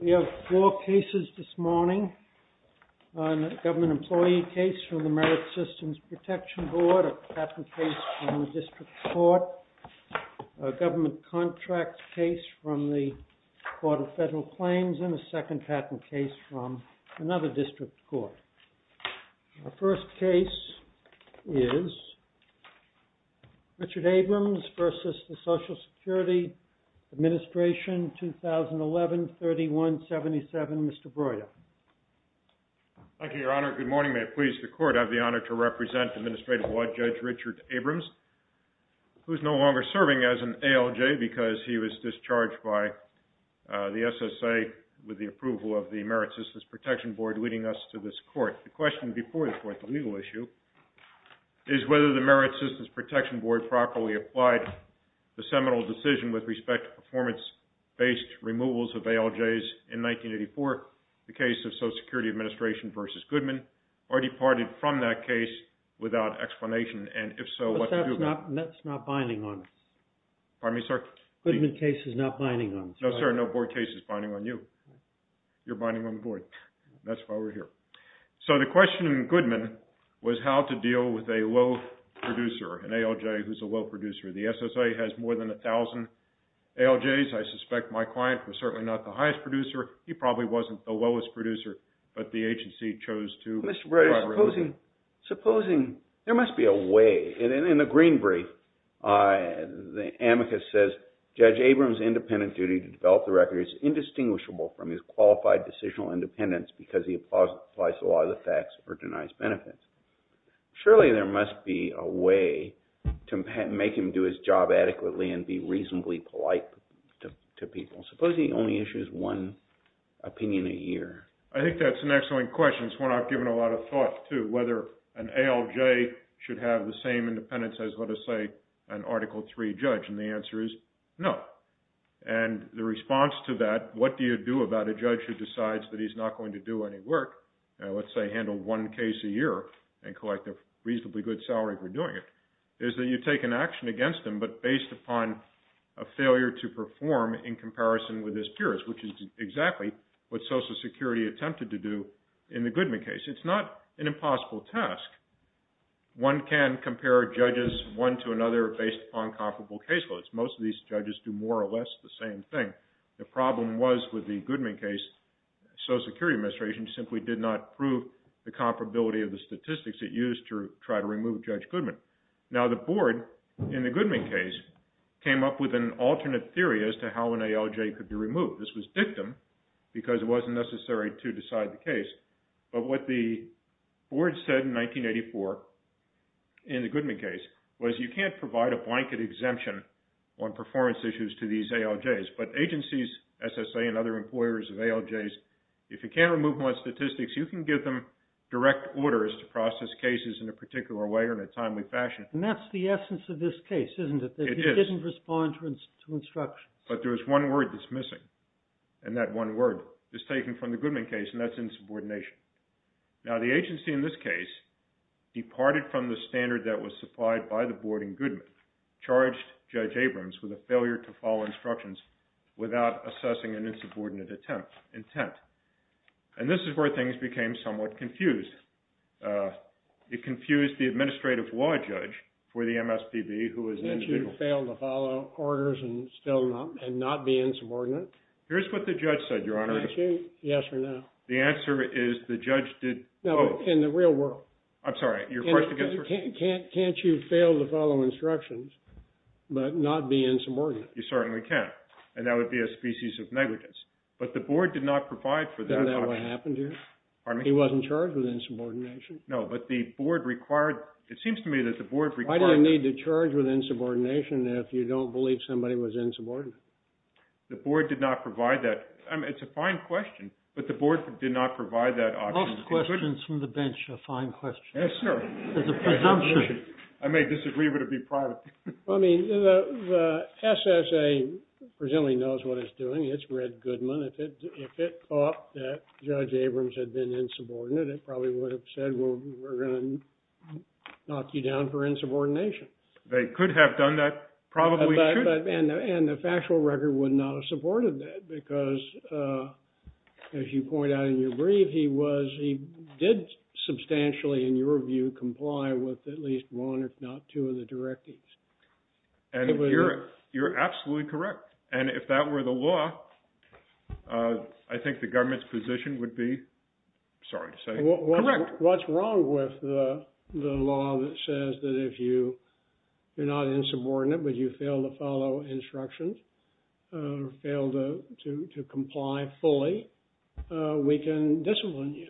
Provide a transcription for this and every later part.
We have four cases this morning, a government employee case from the Merit Systems Protection Board, a patent case from the District Court, a government contract case from the Court of Federal Claims, and a second patent case from another District Court. Our first case is Richard Abrams v. Social Security Administration, 2011-31-77, Mr. Broida. Thank you, Your Honor. Good morning. May it please the Court, I have the honor to represent Administrative Law Judge Richard Abrams, who is no longer serving as an ALJ because he was discharged by the SSA with the approval of the Merit Systems Protection Board, leading us to this Court. The question before the Court, the legal issue, is whether the Merit Systems Protection Board properly applied the seminal decision with respect to performance-based removals of ALJs in 1984, the case of Social Security Administration v. Goodman, or departed from that case without explanation, and if so, what to do about it. But that's not binding on us. Pardon me, sir? Goodman case is not binding on us. No, sir, no board case is binding on you. You're binding on the board. That's why we're here. So the question in Goodman was how to deal with a low producer, an ALJ who's a low producer. The SSA has more than 1,000 ALJs. I suspect my client was certainly not the highest producer. He probably wasn't the lowest producer, but the agency chose to... Mr. Broida, supposing there must be a way, and in the green brief, the amicus says, Judge Abrams' independent duty to develop the record is indistinguishable from his qualified decisional independence because he applies the law to the facts or denies benefits. Surely there must be a way to make him do his job adequately and be reasonably polite to people. Suppose he only issues one opinion a year. I think that's an excellent question. It's one I've given a lot of thought to, whether an ALJ should have the same independence as, let us say, an Article III judge, and the answer is no. And the response to that, what do you do about a judge who decides that he's not going to do any work, let's say handle one case a year and collect a reasonably good salary for doing it, is that you take an action against him but based upon a failure to perform in comparison with his peers, which is exactly what Social Security attempted to do in the Goodman case. It's not an impossible task. One can compare judges one to another based upon comparable case loads. Most of these judges do more or less the same thing. The problem was with the Goodman case, Social Security Administration simply did not prove the comparability of the statistics it used to try to remove Judge Goodman. Now the board in the Goodman case came up with an alternate theory as to how an ALJ could be removed. This was dictum because it wasn't necessary to decide the case. But what the board said in 1984 in the Goodman case was you can't provide a blanket exemption on performance issues to these ALJs. But agencies, SSA and other employers of ALJs, if you can't remove them on statistics, you can give them direct orders to process cases in a particular way or in a timely fashion. And that's the essence of this case, isn't it? It is. That you didn't respond to instructions. But there's one word that's missing, and that one word is taken from the Goodman case, and that's insubordination. Now the agency in this case departed from the standard that was supplied by the board in Goodman, charged Judge Abrams with a failure to follow instructions without assessing an insubordinate intent. And this is where things became somewhat confused. It confused the administrative law judge for the MSPB who was an individual. That you failed to follow orders and still not be insubordinate. Here's what the judge said, Your Honor. Can I ask you yes or no? The answer is the judge did... No, in the real world. I'm sorry, your question... Can't you fail to follow instructions but not be insubordinate? You certainly can. And that would be a species of negligence. But the board did not provide for that... Isn't that what happened here? Pardon me? He wasn't charged with insubordination. No, but the board required... It seems to me that the board required... Why do you need to charge with insubordination if you don't believe somebody was insubordinate? The board did not provide that. I mean, it's a fine question. But the board did not provide that option. Lost questions from the bench are fine questions. Yes, sir. It's a presumption. I may disagree, but it would be private. I mean, the SSA presumably knows what it's doing. It's read Goodman. If it thought that Judge Abrams had been insubordinate, it probably would have said, well, we're going to knock you down for insubordination. They could have done that. Probably could. And the factual record would not have supported that because, as you point out in your brief, he did substantially, in your view, comply with at least one, if not two, of the directives. And you're absolutely correct. And if that were the law, I think the government's position would be, sorry to say, correct. What's wrong with the law that says that if you are not insubordinate, but you fail to follow instructions, fail to comply fully, we can discipline you.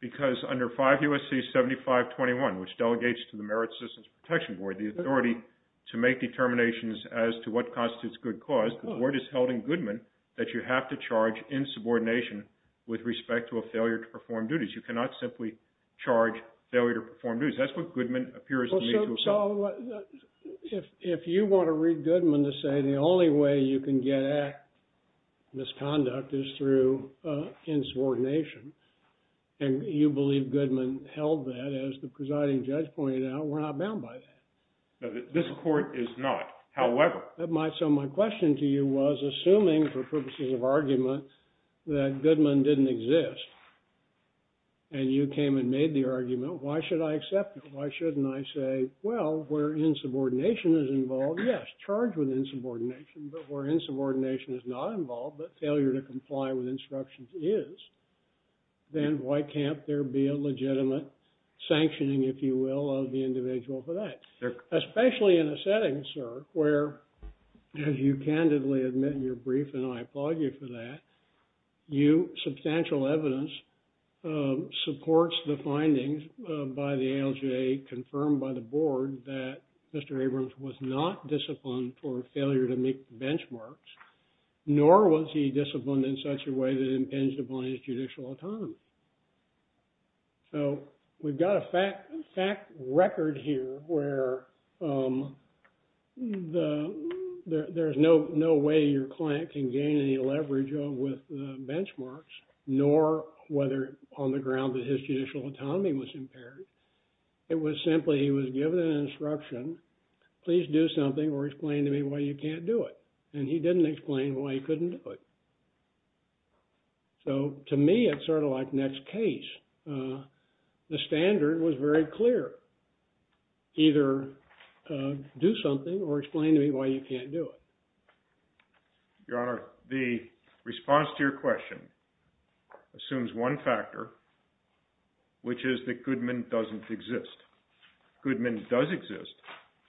Because under 5 U.S.C. 7521, which delegates to the Merit Systems Protection Board, the authority to make determinations as to what constitutes good cause, the board has held in Goodman that you have to charge insubordination with respect to a failure to perform duties. You cannot simply charge failure to perform duties. That's what Goodman appears to mean. So if you want to read Goodman to say the only way you can get misconduct is through insubordination, and you believe Goodman held that, as the presiding judge pointed out, we're not bound by that. This court is not. However— So my question to you was, assuming for purposes of argument that Goodman didn't exist, and you came and made the argument, why should I accept it? Why shouldn't I say, well, where insubordination is involved, yes, charge with insubordination. But where insubordination is not involved, but failure to comply with instructions is, then why can't there be a legitimate sanctioning, if you will, of the individual for that? Especially in a setting, sir, where, as you candidly admit in your brief, and I applaud you for that, you—substantial evidence supports the findings by the ALJ confirmed by the board that Mr. Abrams was not disciplined for failure to meet the benchmarks, nor was he disciplined in such a way that it impinged upon his judicial autonomy. So we've got a fact record here where there's no way your client can gain any leverage with benchmarks, nor whether on the ground that his judicial autonomy was impaired. It was simply, he was given an instruction, please do something or explain to me why you can't do it. And he didn't explain why he couldn't do it. So to me, it's sort of like Nett's case. The standard was very clear. Either do something or explain to me why you can't do it. Your Honor, the response to your question assumes one factor, which is that Goodman doesn't exist. Goodman does exist.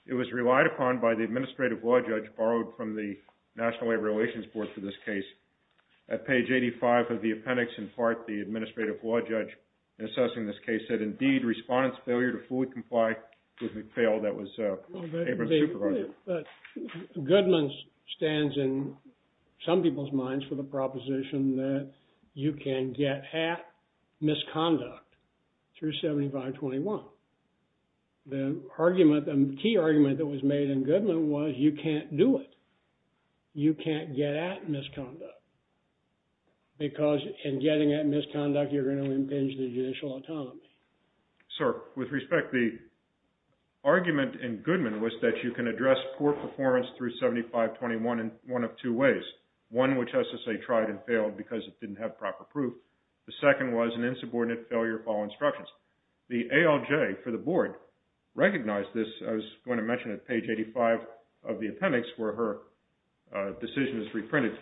It was relied upon by the administrative law judge borrowed from the National Labor Relations Board for this case. At page 85 of the appendix, in part, the administrative law judge assessing this case said, indeed, respondent's failure to fully comply with McPhail, that was Abrams' supervisor. Goodman stands in some people's minds for the proposition that you can get at misconduct through 7521. The argument, the key argument that was made in Goodman was you can't do it. You can't get at misconduct. Because in getting at misconduct, you're going to impinge the judicial autonomy. Sir, with respect, the argument in Goodman was that you can address poor performance through 7521 in one of two ways. One, which SSA tried and failed because it didn't have proper proof. The second was an insubordinate failure to follow instructions. The ALJ for the board recognized this. I was going to mention at page 85 of the appendix where her decision is reprinted.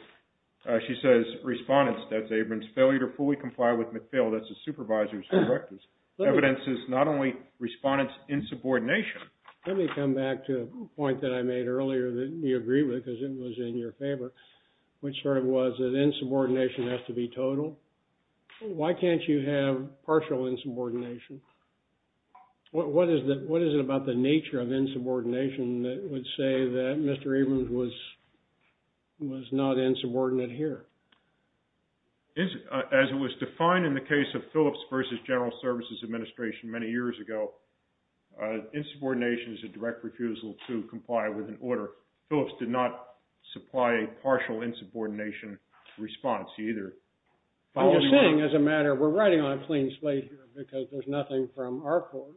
She says, respondent's, that's Abrams, failure to fully comply with McPhail, that's his supervisor's directives. Evidence is not only respondent's insubordination. Let me come back to a point that I made earlier that you agreed with because it was in your favor, which sort of was that insubordination has to be total. Why can't you have partial insubordination? What is it about the nature of insubordination that would say that Mr. Abrams was not insubordinate here? As it was defined in the case of Phillips versus General Services Administration many years ago, insubordination is a direct refusal to comply with an order. Phillips did not supply a partial insubordination response either. I'm just saying as a matter, we're writing on a clean slate here because there's nothing from our court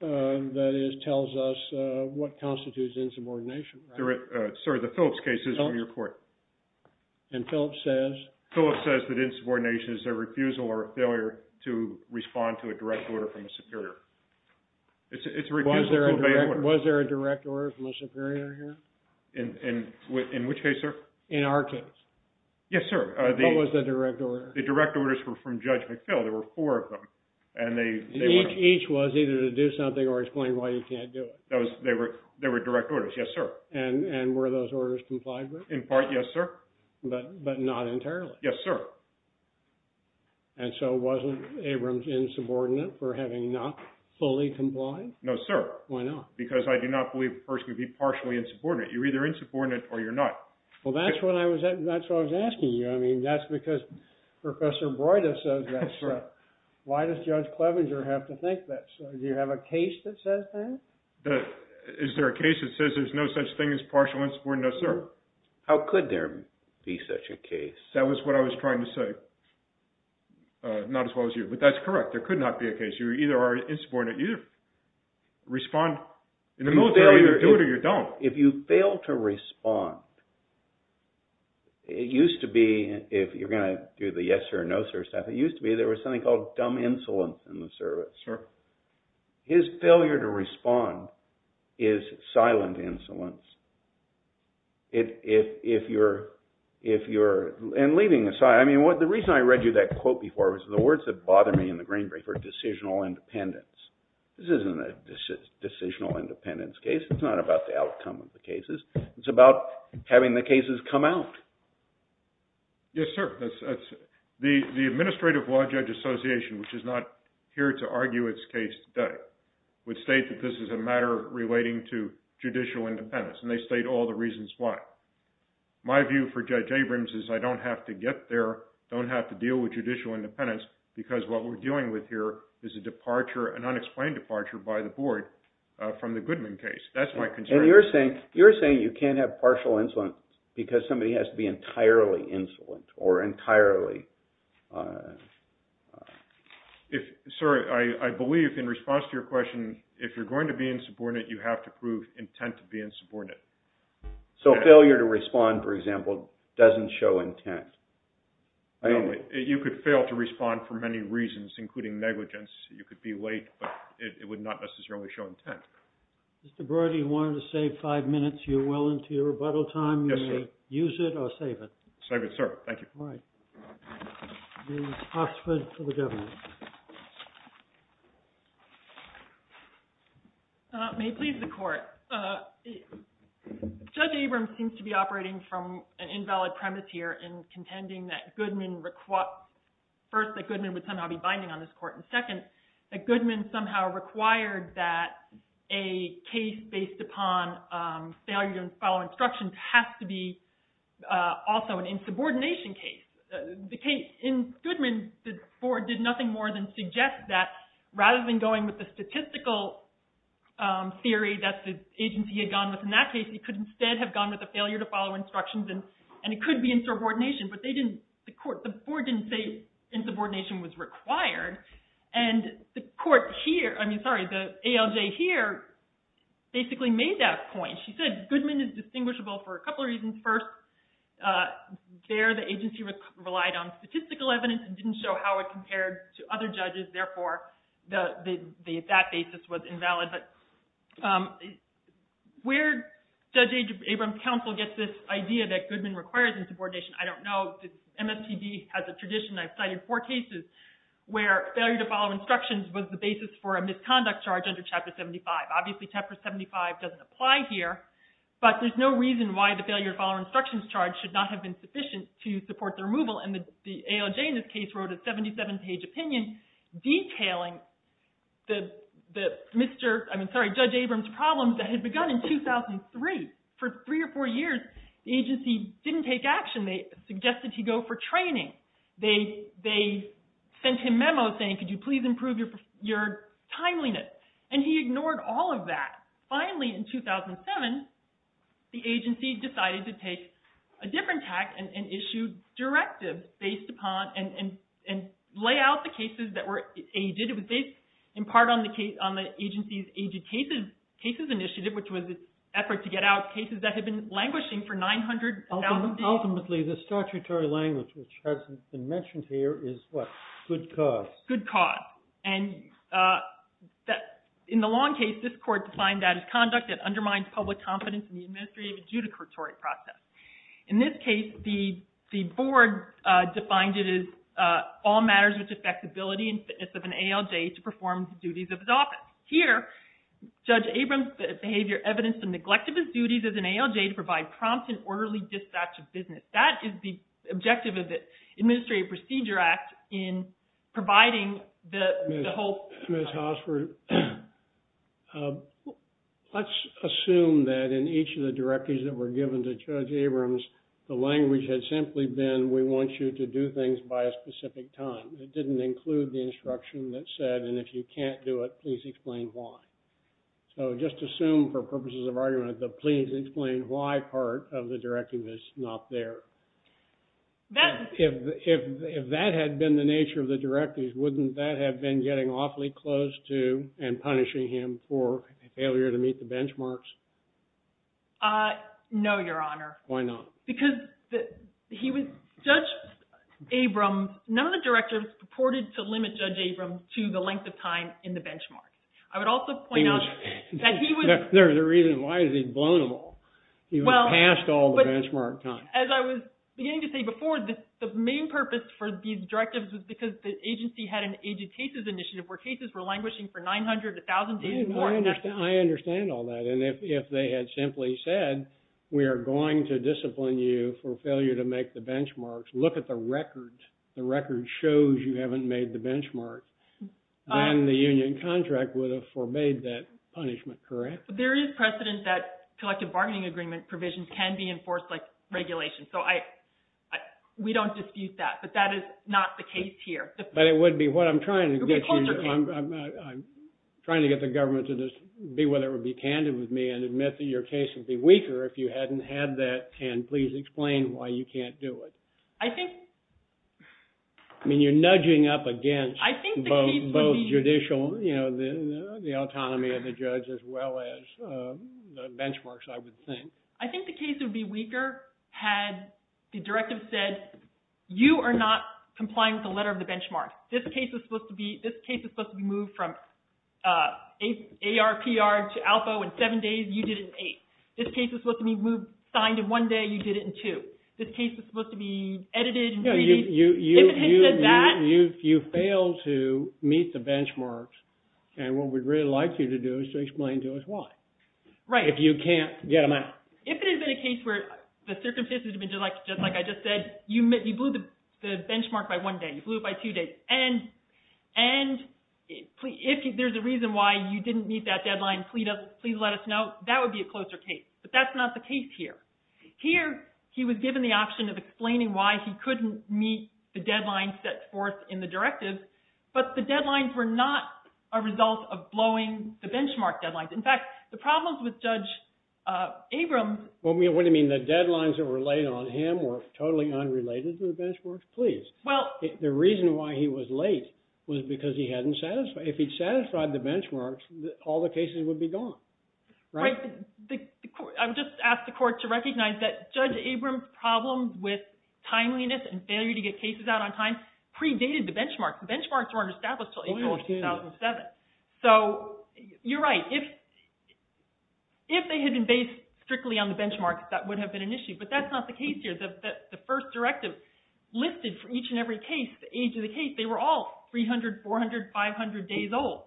that tells us what constitutes insubordination. Sir, the Phillips case is from your court. And Phillips says? Phillips says that insubordination is a refusal or a failure to respond to a direct order from a superior. Was there a direct order from a superior here? In which case, sir? In our case. Yes, sir. What was the direct order? The direct orders were from Judge McPhill. There were four of them. And each was either to do something or explain why you can't do it. They were direct orders. Yes, sir. And were those orders complied with? In part, yes, sir. But not entirely? Yes, sir. And so wasn't Abrams insubordinate for having not fully complied? No, sir. Why not? Because I do not believe a person could be partially insubordinate. You're either insubordinate or you're not. Well, that's what I was asking you. I mean, that's because Professor Broida says that, sir. Why does Judge Clevenger have to think that, sir? Do you have a case that says that? Is there a case that says there's no such thing as partial insubordination? No, sir. How could there be such a case? That was what I was trying to say. Not as well as you. But that's correct. There could not be a case. You either are insubordinate or you respond. In the military, you either do it or you don't. If you fail to respond, it used to be, if you're going to do the yes-or-no sort of stuff, it used to be there was something called dumb insolence in the service. Sure. His failure to respond is silent insolence. And leaving aside, I mean, the reason I read you that quote before was, the words that bother me in the green brief are decisional independence. This isn't a decisional independence case. It's not about the outcome of the cases. It's about having the cases come out. Yes, sir. The Administrative Law Judge Association, which is not here to argue its case today, would state that this is a matter relating to judicial independence, and they state all the reasons why. My view for Judge Abrams is I don't have to get there, don't have to deal with judicial independence because what we're dealing with here is a departure, an unexplained departure by the board from the Goodman case. That's my concern. And you're saying you can't have partial insolence because somebody has to be entirely insolent or entirely. Sir, I believe in response to your question, if you're going to be insubordinate, you have to prove intent to be insubordinate. So failure to respond, for example, doesn't show intent. You could fail to respond for many reasons, including negligence. You could be late, but it would not necessarily show intent. Mr. Brody, you wanted to save five minutes. You're well into your rebuttal time. Yes, sir. Use it or save it. Save it, sir. Thank you. All right. Ms. Oxford for the government. May it please the Court. Judge Abrams seems to be operating from an invalid premise here in contending that Goodman, first, that Goodman would somehow be binding on this Court, and second, that Goodman somehow required that a case based upon failure to follow instructions has to be also an insubordination case. In Goodman, Ford did nothing more than suggest that rather than going with the statistical theory that the agency had gone with in that case, it could instead have gone with a failure to follow instructions, and it could be insubordination, but the Court didn't say insubordination was required. And the Court here, I mean, sorry, the ALJ here basically made that point. She said Goodman is distinguishable for a couple of reasons. First, there the agency relied on statistical evidence and didn't show how it compared to other judges. Therefore, that basis was invalid. But where Judge Abrams' counsel gets this idea that Goodman requires insubordination, I don't know. MSPB has a tradition. I've cited four cases where failure to follow instructions was the basis for a misconduct charge under Chapter 75. Obviously, Chapter 75 doesn't apply here, but there's no reason why the failure to follow instructions charge should not have been sufficient to support the removal. And the ALJ in this case wrote a 77-page opinion detailing Judge Abrams' problems that had begun in 2003. For three or four years, the agency didn't take action. They suggested he go for training. They sent him memos saying, could you please improve your timeliness? And he ignored all of that. Finally, in 2007, the agency decided to take a different tack and issued directives based upon and lay out the cases that were aided. It was based in part on the agency's aided cases initiative, which was an effort to get out cases that had been languishing for 900,000 years. Ultimately, the statutory language, which hasn't been mentioned here, is what? Good cause. Good cause. And in the long case, this court defined that as conduct that undermines public confidence in the administrative adjudicatory process. In this case, the board defined it as all matters which affect the ability and fitness of an ALJ to perform the duties of his office. Here, Judge Abrams' behavior evidenced the neglect of his duties as an ALJ to provide prompt and orderly dispatch of business. That is the objective of the Administrative Procedure Act in providing the whole- Ms. Hausford, let's assume that in each of the directives that were given to Judge Abrams, the language had simply been, we want you to do things by a specific time. It didn't include the instruction that said, and if you can't do it, please explain why. So just assume, for purposes of argument, the please explain why part of the directive is not there. If that had been the nature of the directives, wouldn't that have been getting awfully close to and punishing him for failure to meet the benchmarks? No, Your Honor. Why not? Because Judge Abrams, none of the directives purported to limit Judge Abrams to the length of time in the benchmark. I would also point out that he was- The reason why is he's vulnerable. He was past all the benchmark time. As I was beginning to say before, the main purpose for these directives was because the agency had an aged cases initiative where cases were languishing for 900 to 1,000 days or more. I understand all that. And if they had simply said, we are going to discipline you for failure to make the benchmarks, look at the record. The record shows you haven't made the benchmark. Then the union contract would have forbade that punishment, correct? There is precedent that collective bargaining agreement provisions can be enforced like regulation. So we don't dispute that. But that is not the case here. But it would be what I'm trying to get you. I'm trying to get the government to just be whether it would be candid with me and admit that your case would be weaker if you hadn't had that and please explain why you can't do it. I think- I mean, you're nudging up against both judicial, you know, the autonomy of the judge as well as the benchmarks, I would think. I think the case would be weaker had the directive said, you are not complying with the letter of the benchmark. This case is supposed to be moved from ARPR to ALFO in seven days. You did it in eight. This case is supposed to be signed in one day. You did it in two. This case is supposed to be edited. If it had said that- You failed to meet the benchmarks. And what we would really like you to do is to explain to us why. Right. If you can't get them out. If it had been a case where the circumstances had been just like I just said, you blew the benchmark by one day. You blew it by two days. And if there's a reason why you didn't meet that deadline, please let us know. That would be a closer case. But that's not the case here. Here, he was given the option of explaining why he couldn't meet the deadline set forth in the directive, but the deadlines were not a result of blowing the benchmark deadlines. In fact, the problems with Judge Abrams- What do you mean? The deadlines that were laid on him were totally unrelated to the benchmarks? Please. The reason why he was late was because he hadn't satisfied- If he'd satisfied the benchmarks, all the cases would be gone. Right. I just asked the court to recognize that Judge Abrams' problem with timeliness and failure to get cases out on time predated the benchmarks. The benchmarks weren't established until April of 2007. So you're right. If they had been based strictly on the benchmarks, that would have been an issue. But that's not the case here. The first directive listed for each and every case, the age of the case, they were all 300, 400, 500 days old.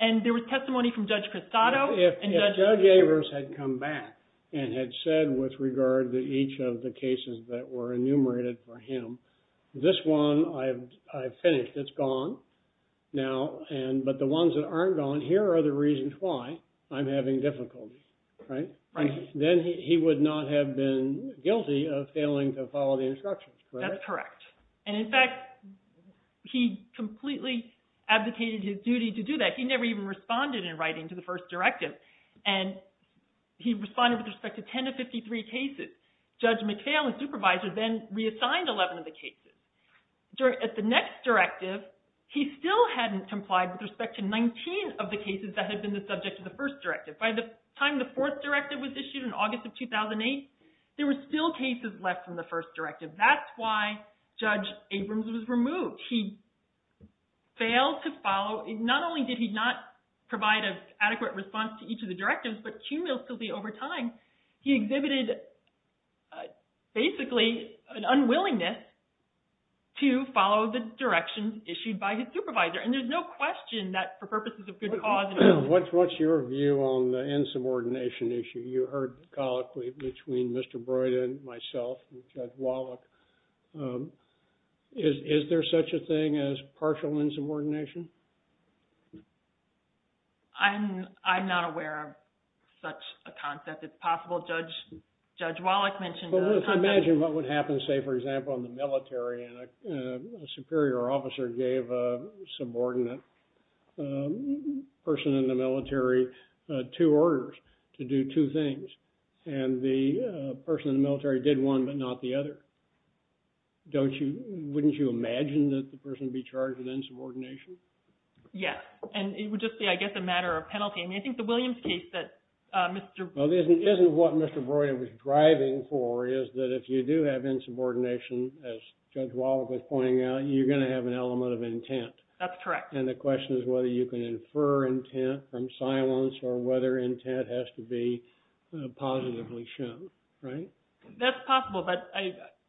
And there was testimony from Judge Crisanto- If Judge Abrams had come back and had said with regard to each of the cases that were enumerated for him, this one, I've finished, it's gone. But the ones that aren't gone, here are the reasons why I'm having difficulty. Right? Then he would not have been guilty of failing to follow the instructions, correct? That's correct. And, in fact, he completely abdicated his duty to do that. He never even responded in writing to the first directive. And he responded with respect to 10 of 53 cases. Judge McPhail, the supervisor, then reassigned 11 of the cases. At the next directive, he still hadn't complied with respect to 19 of the cases that had been the subject of the first directive. By the time the fourth directive was issued in August of 2008, there were still cases left in the first directive. That's why Judge Abrams was removed. He failed to follow. Not only did he not provide an adequate response to each of the directives, but cumulatively over time, he exhibited basically an unwillingness to follow the directions issued by his supervisor. And there's no question that for purposes of good cause- What's your view on the insubordination issue? You heard colloquially between Mr. Broyden, myself, and Judge Wallach. Is there such a thing as partial insubordination? I'm not aware of such a concept. It's possible Judge Wallach mentioned- Well, let's imagine what would happen, say, for example, in the military, and a superior officer gave a subordinate person in the military two orders to do two things. And the person in the military did one but not the other. Wouldn't you imagine that the person would be charged with insubordination? Yes. And it would just be, I guess, a matter of penalty. I mean, I think the Williams case that Mr.- Well, isn't what Mr. Broyden was driving for is that if you do have insubordination, as Judge Wallach was pointing out, you're going to have an element of intent. That's correct. And the question is whether you can infer intent from silence or whether intent has to be positively shown, right? That's possible, but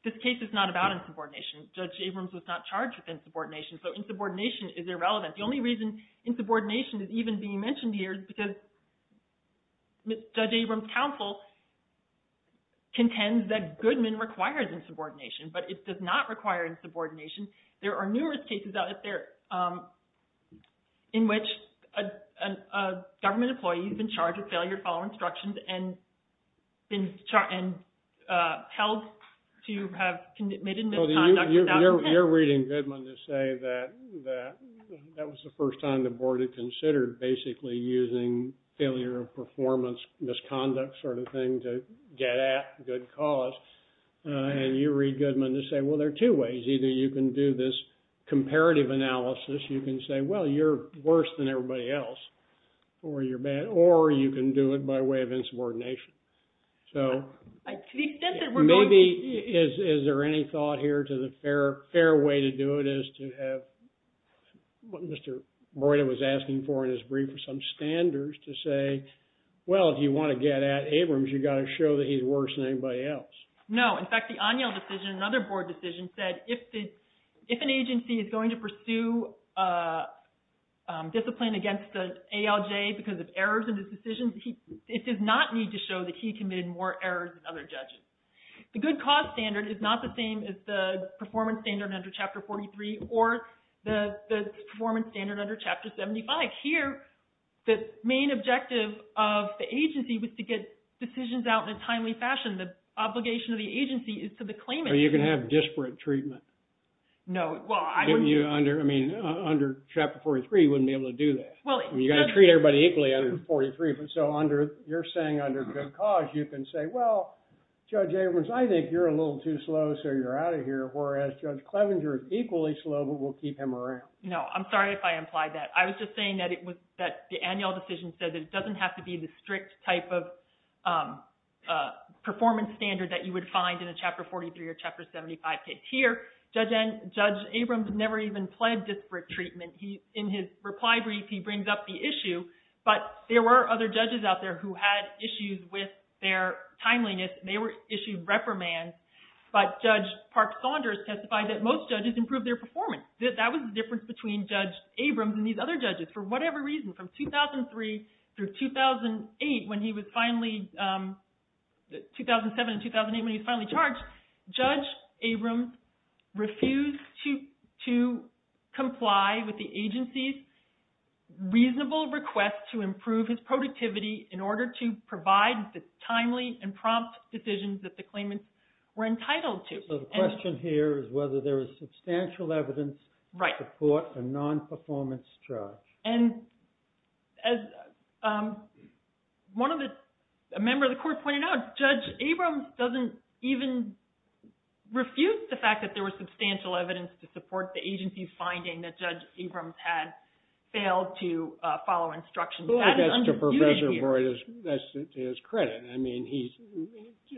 this case is not about insubordination. Judge Abrams was not charged with insubordination, so insubordination is irrelevant. The only reason insubordination is even being mentioned here is because Judge Abrams' counsel contends that Goodman requires insubordination, but it does not require insubordination. There are numerous cases out there in which a government employee has been charged with failure to follow instructions and held to have committed misconduct without intent. You're reading Goodman to say that that was the first time the board had considered basically using failure of performance, misconduct sort of thing to get at good cause. And you read Goodman to say, well, there are two ways. Either you can do this comparative analysis. You can say, well, you're worse than everybody else, or you can do it by way of insubordination. So maybe is there any thought here to the fair way to do it is to have what Mr. Broida was asking for in his brief, some standards to say, well, if you want to get at Abrams, you've got to show that he's worse than anybody else. No. In fact, the O'Neill decision, another board decision, said if an agency is going to pursue discipline against the ALJ because of errors in his decisions, it does not need to show that he committed more errors than other judges. The good cause standard is not the same as the performance standard under Chapter 43 or the performance standard under Chapter 75. Here, the main objective of the agency was to get decisions out in a timely fashion. The obligation of the agency is to the claimant. But you can have disparate treatment. No. Well, I wouldn't. I mean, under Chapter 43, you wouldn't be able to do that. You've got to treat everybody equally under 43. So you're saying under good cause, you can say, well, Judge Abrams, I think you're a little too slow, so you're out of here. Whereas Judge Clevenger is equally slow, but we'll keep him around. No. I'm sorry if I implied that. I was just saying that the O'Neill decision said that it doesn't have to be the strict type of performance standard that you would find in a Chapter 43 or Chapter 75 case. Here, Judge Abrams never even pled disparate treatment. In his reply brief, he brings up the issue, but there were other judges out there who had issues with their timeliness, and they issued reprimands. But Judge Park Saunders testified that most judges improved their performance. That was the difference between Judge Abrams and these other judges. For whatever reason, from 2003 through 2007 and 2008, when he was finally charged, Judge Abrams refused to comply with the agency's reasonable request to improve his productivity in order to provide the timely and prompt decisions that the claimants were entitled to. So the question here is whether there is substantial evidence to court a non-performance judge. And as a member of the court pointed out, Judge Abrams doesn't even refuse the fact that there was substantial evidence to support the agency's finding that Judge Abrams had failed to follow instructions. That is undisputed here. That's to Professor Boyd's – that's to his credit. I mean, he's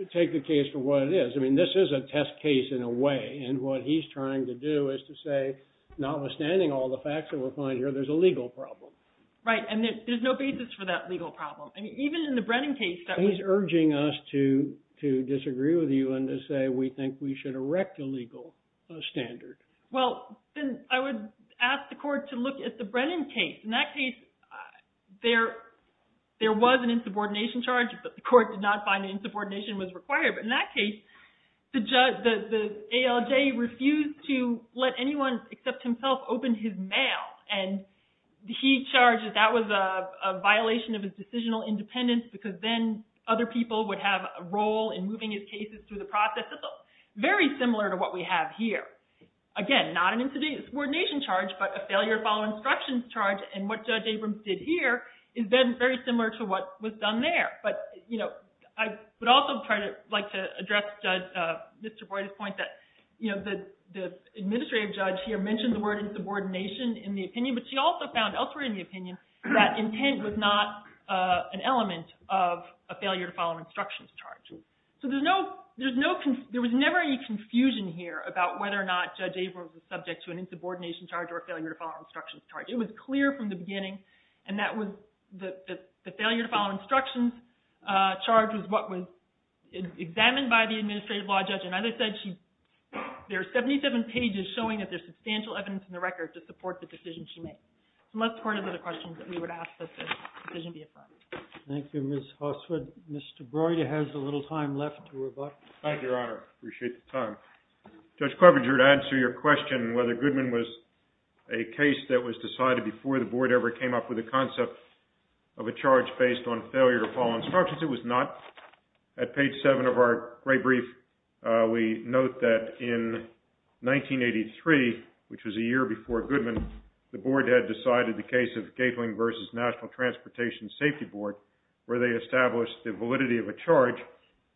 – take the case for what it is. I mean, this is a test case in a way. And what he's trying to do is to say, notwithstanding all the facts that we're finding here, there's a legal problem. Right, and there's no basis for that legal problem. I mean, even in the Brennan case – He's urging us to disagree with you and to say we think we should erect a legal standard. Well, then I would ask the court to look at the Brennan case. In that case, there was an insubordination charge, but the court did not find insubordination was required. But in that case, the ALJ refused to let anyone except himself open his mail. And he charges that was a violation of his decisional independence because then other people would have a role in moving his cases through the process. It's very similar to what we have here. Again, not an insubordination charge, but a failure to follow instructions charge. And what Judge Abrams did here is then very similar to what was done there. But, you know, I would also try to – like to address Judge – Mr. Boyd's point that, you know, the administrative judge here mentioned the word insubordination in the opinion. But she also found elsewhere in the opinion that intent was not an element of a failure to follow instructions charge. So there's no – there was never any confusion here about whether or not Judge Abrams was subject to an insubordination charge or a failure to follow instructions charge. It was clear from the beginning, and that was – the failure to follow instructions charge was what was examined by the administrative law judge. And as I said, she – there are 77 pages showing that there's substantial evidence in the record to support the decision she made. So that's part of the questions that we would ask that the decision be affirmed. Thank you. Thank you, Ms. Hosswood. Mr. Boyd, you have a little time left to rebut. Thank you, Your Honor. I appreciate the time. Judge Carpenter, to answer your question whether Goodman was a case that was decided before the board ever came up with a concept of a charge based on failure to follow instructions, it was not. At page 7 of our great brief, we note that in 1983, which was a year before Goodman, the board had decided the case of Gatling v. National Transportation Safety Board, where they established the validity of a charge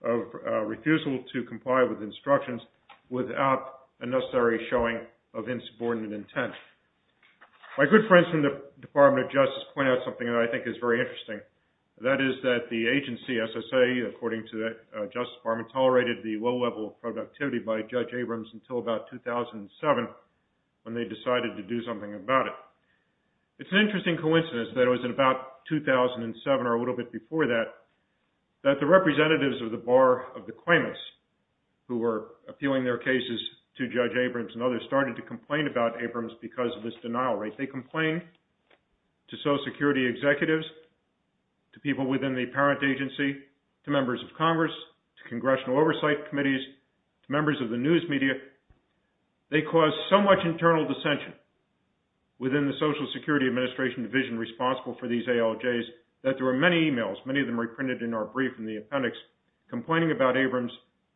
of refusal to comply with instructions without a necessary showing of insubordinate intent. My good friends from the Department of Justice point out something that I think is very interesting. That is that the agency, SSA, according to the Justice Department, tolerated the low level of productivity by Judge Abrams until about 2007 when they decided to do something about it. It's an interesting coincidence that it was in about 2007 or a little bit before that that the representatives of the bar of the claimants who were appealing their cases to Judge Abrams and others started to complain about Abrams because of this denial rate. They complained to social security executives, to people within the parent agency, to members of Congress, to congressional oversight committees, to members of the news media. They caused so much internal dissension within the Social Security Administration Division responsible for these ALJs that there were many emails, many of them reprinted in our brief in the appendix, complaining about Abrams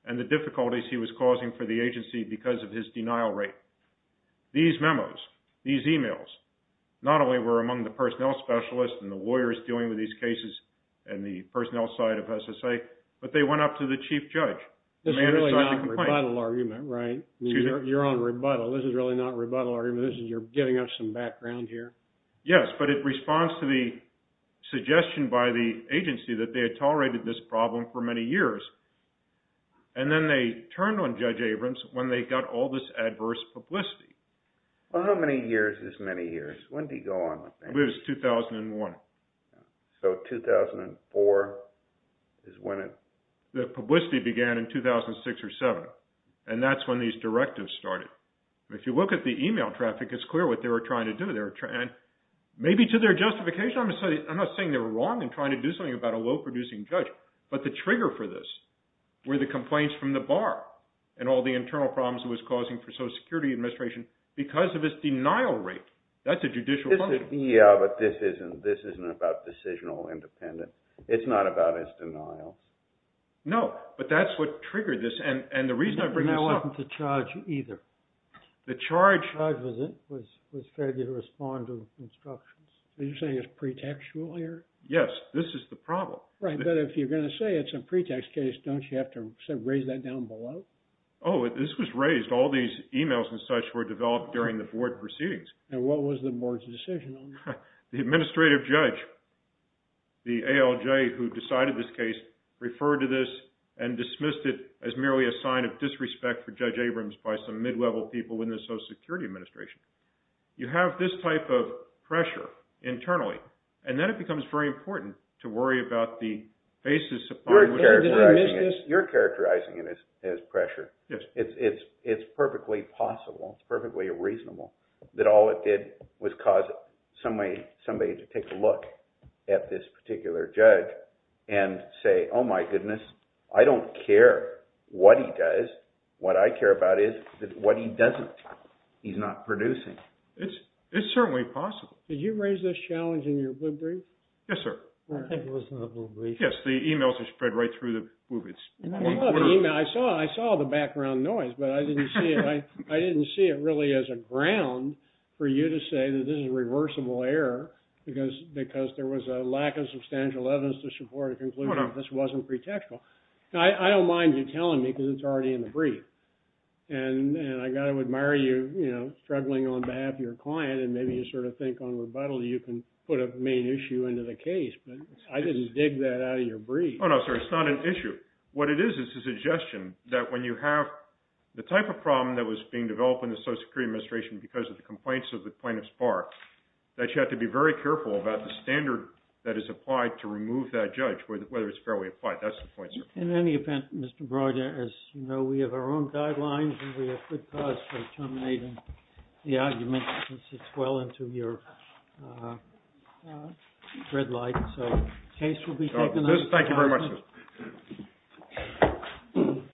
and the difficulties he was causing for the agency because of his denial rate. These memos, these emails, not only were among the personnel specialists and the lawyers dealing with these cases and the personnel side of SSA, but they went up to the chief judge. This is really not a rebuttal argument, right? You're on rebuttal. This is really not a rebuttal argument. You're giving us some background here. Yes, but it responds to the suggestion by the agency that they had tolerated this problem for many years, and then they turned on Judge Abrams when they got all this adverse publicity. How many years is many years? When did he go on? It was 2001. So 2004 is when it… The publicity began in 2006 or 2007, and that's when these directives started. If you look at the email traffic, it's clear what they were trying to do. Maybe to their justification, I'm not saying they were wrong in trying to do something about a low-producing judge, but the trigger for this were the complaints from the bar and all the internal problems it was causing for Social Security Administration because of its denial rate. That's a judicial problem. Yeah, but this isn't about decisional independence. It's not about its denial. No, but that's what triggered this, and the reason I bring this up… The charge… The charge was failure to respond to instructions. Are you saying it's pretextual here? Yes, this is the problem. Right, but if you're going to say it's a pretext case, don't you have to raise that down below? Oh, this was raised. All these emails and such were developed during the board proceedings. And what was the board's decision on that? The administrative judge, the ALJ who decided this case, referred to this and dismissed it as merely a sign of disrespect for Judge Abrams by some mid-level people in the Social Security Administration. You have this type of pressure internally, and then it becomes very important to worry about the basis upon which… You're characterizing it as pressure. Yes. It's perfectly possible, perfectly reasonable that all it did was cause somebody to take a look at this particular judge and say, oh my goodness, I don't care what he does. What I care about is what he doesn't. He's not producing. It's certainly possible. Did you raise this challenge in your blip brief? Yes, sir. I think it was in the blip brief. Yes, the emails were spread right through the blip brief. I saw the background noise, but I didn't see it really as a ground for you to say that this is reversible error because there was a lack of substantial evidence to support a conclusion that this wasn't pretextual. I don't mind you telling me because it's already in the brief. And I've got to admire you struggling on behalf of your client, and maybe you sort of think on rebuttal you can put a main issue into the case. But I didn't dig that out of your brief. Oh, no, sir, it's not an issue. What it is is a suggestion that when you have the type of problem that was being developed in the Social Security Administration because of the complaints of the plaintiff's bar, that you have to be very careful about the standard that is applied to remove that judge, whether it's fairly applied. That's the point, sir. In any event, Mr. Broder, as you know, we have our own guidelines, and we have good cause for terminating the argument since it's well into your red light. Thank you very much, sir.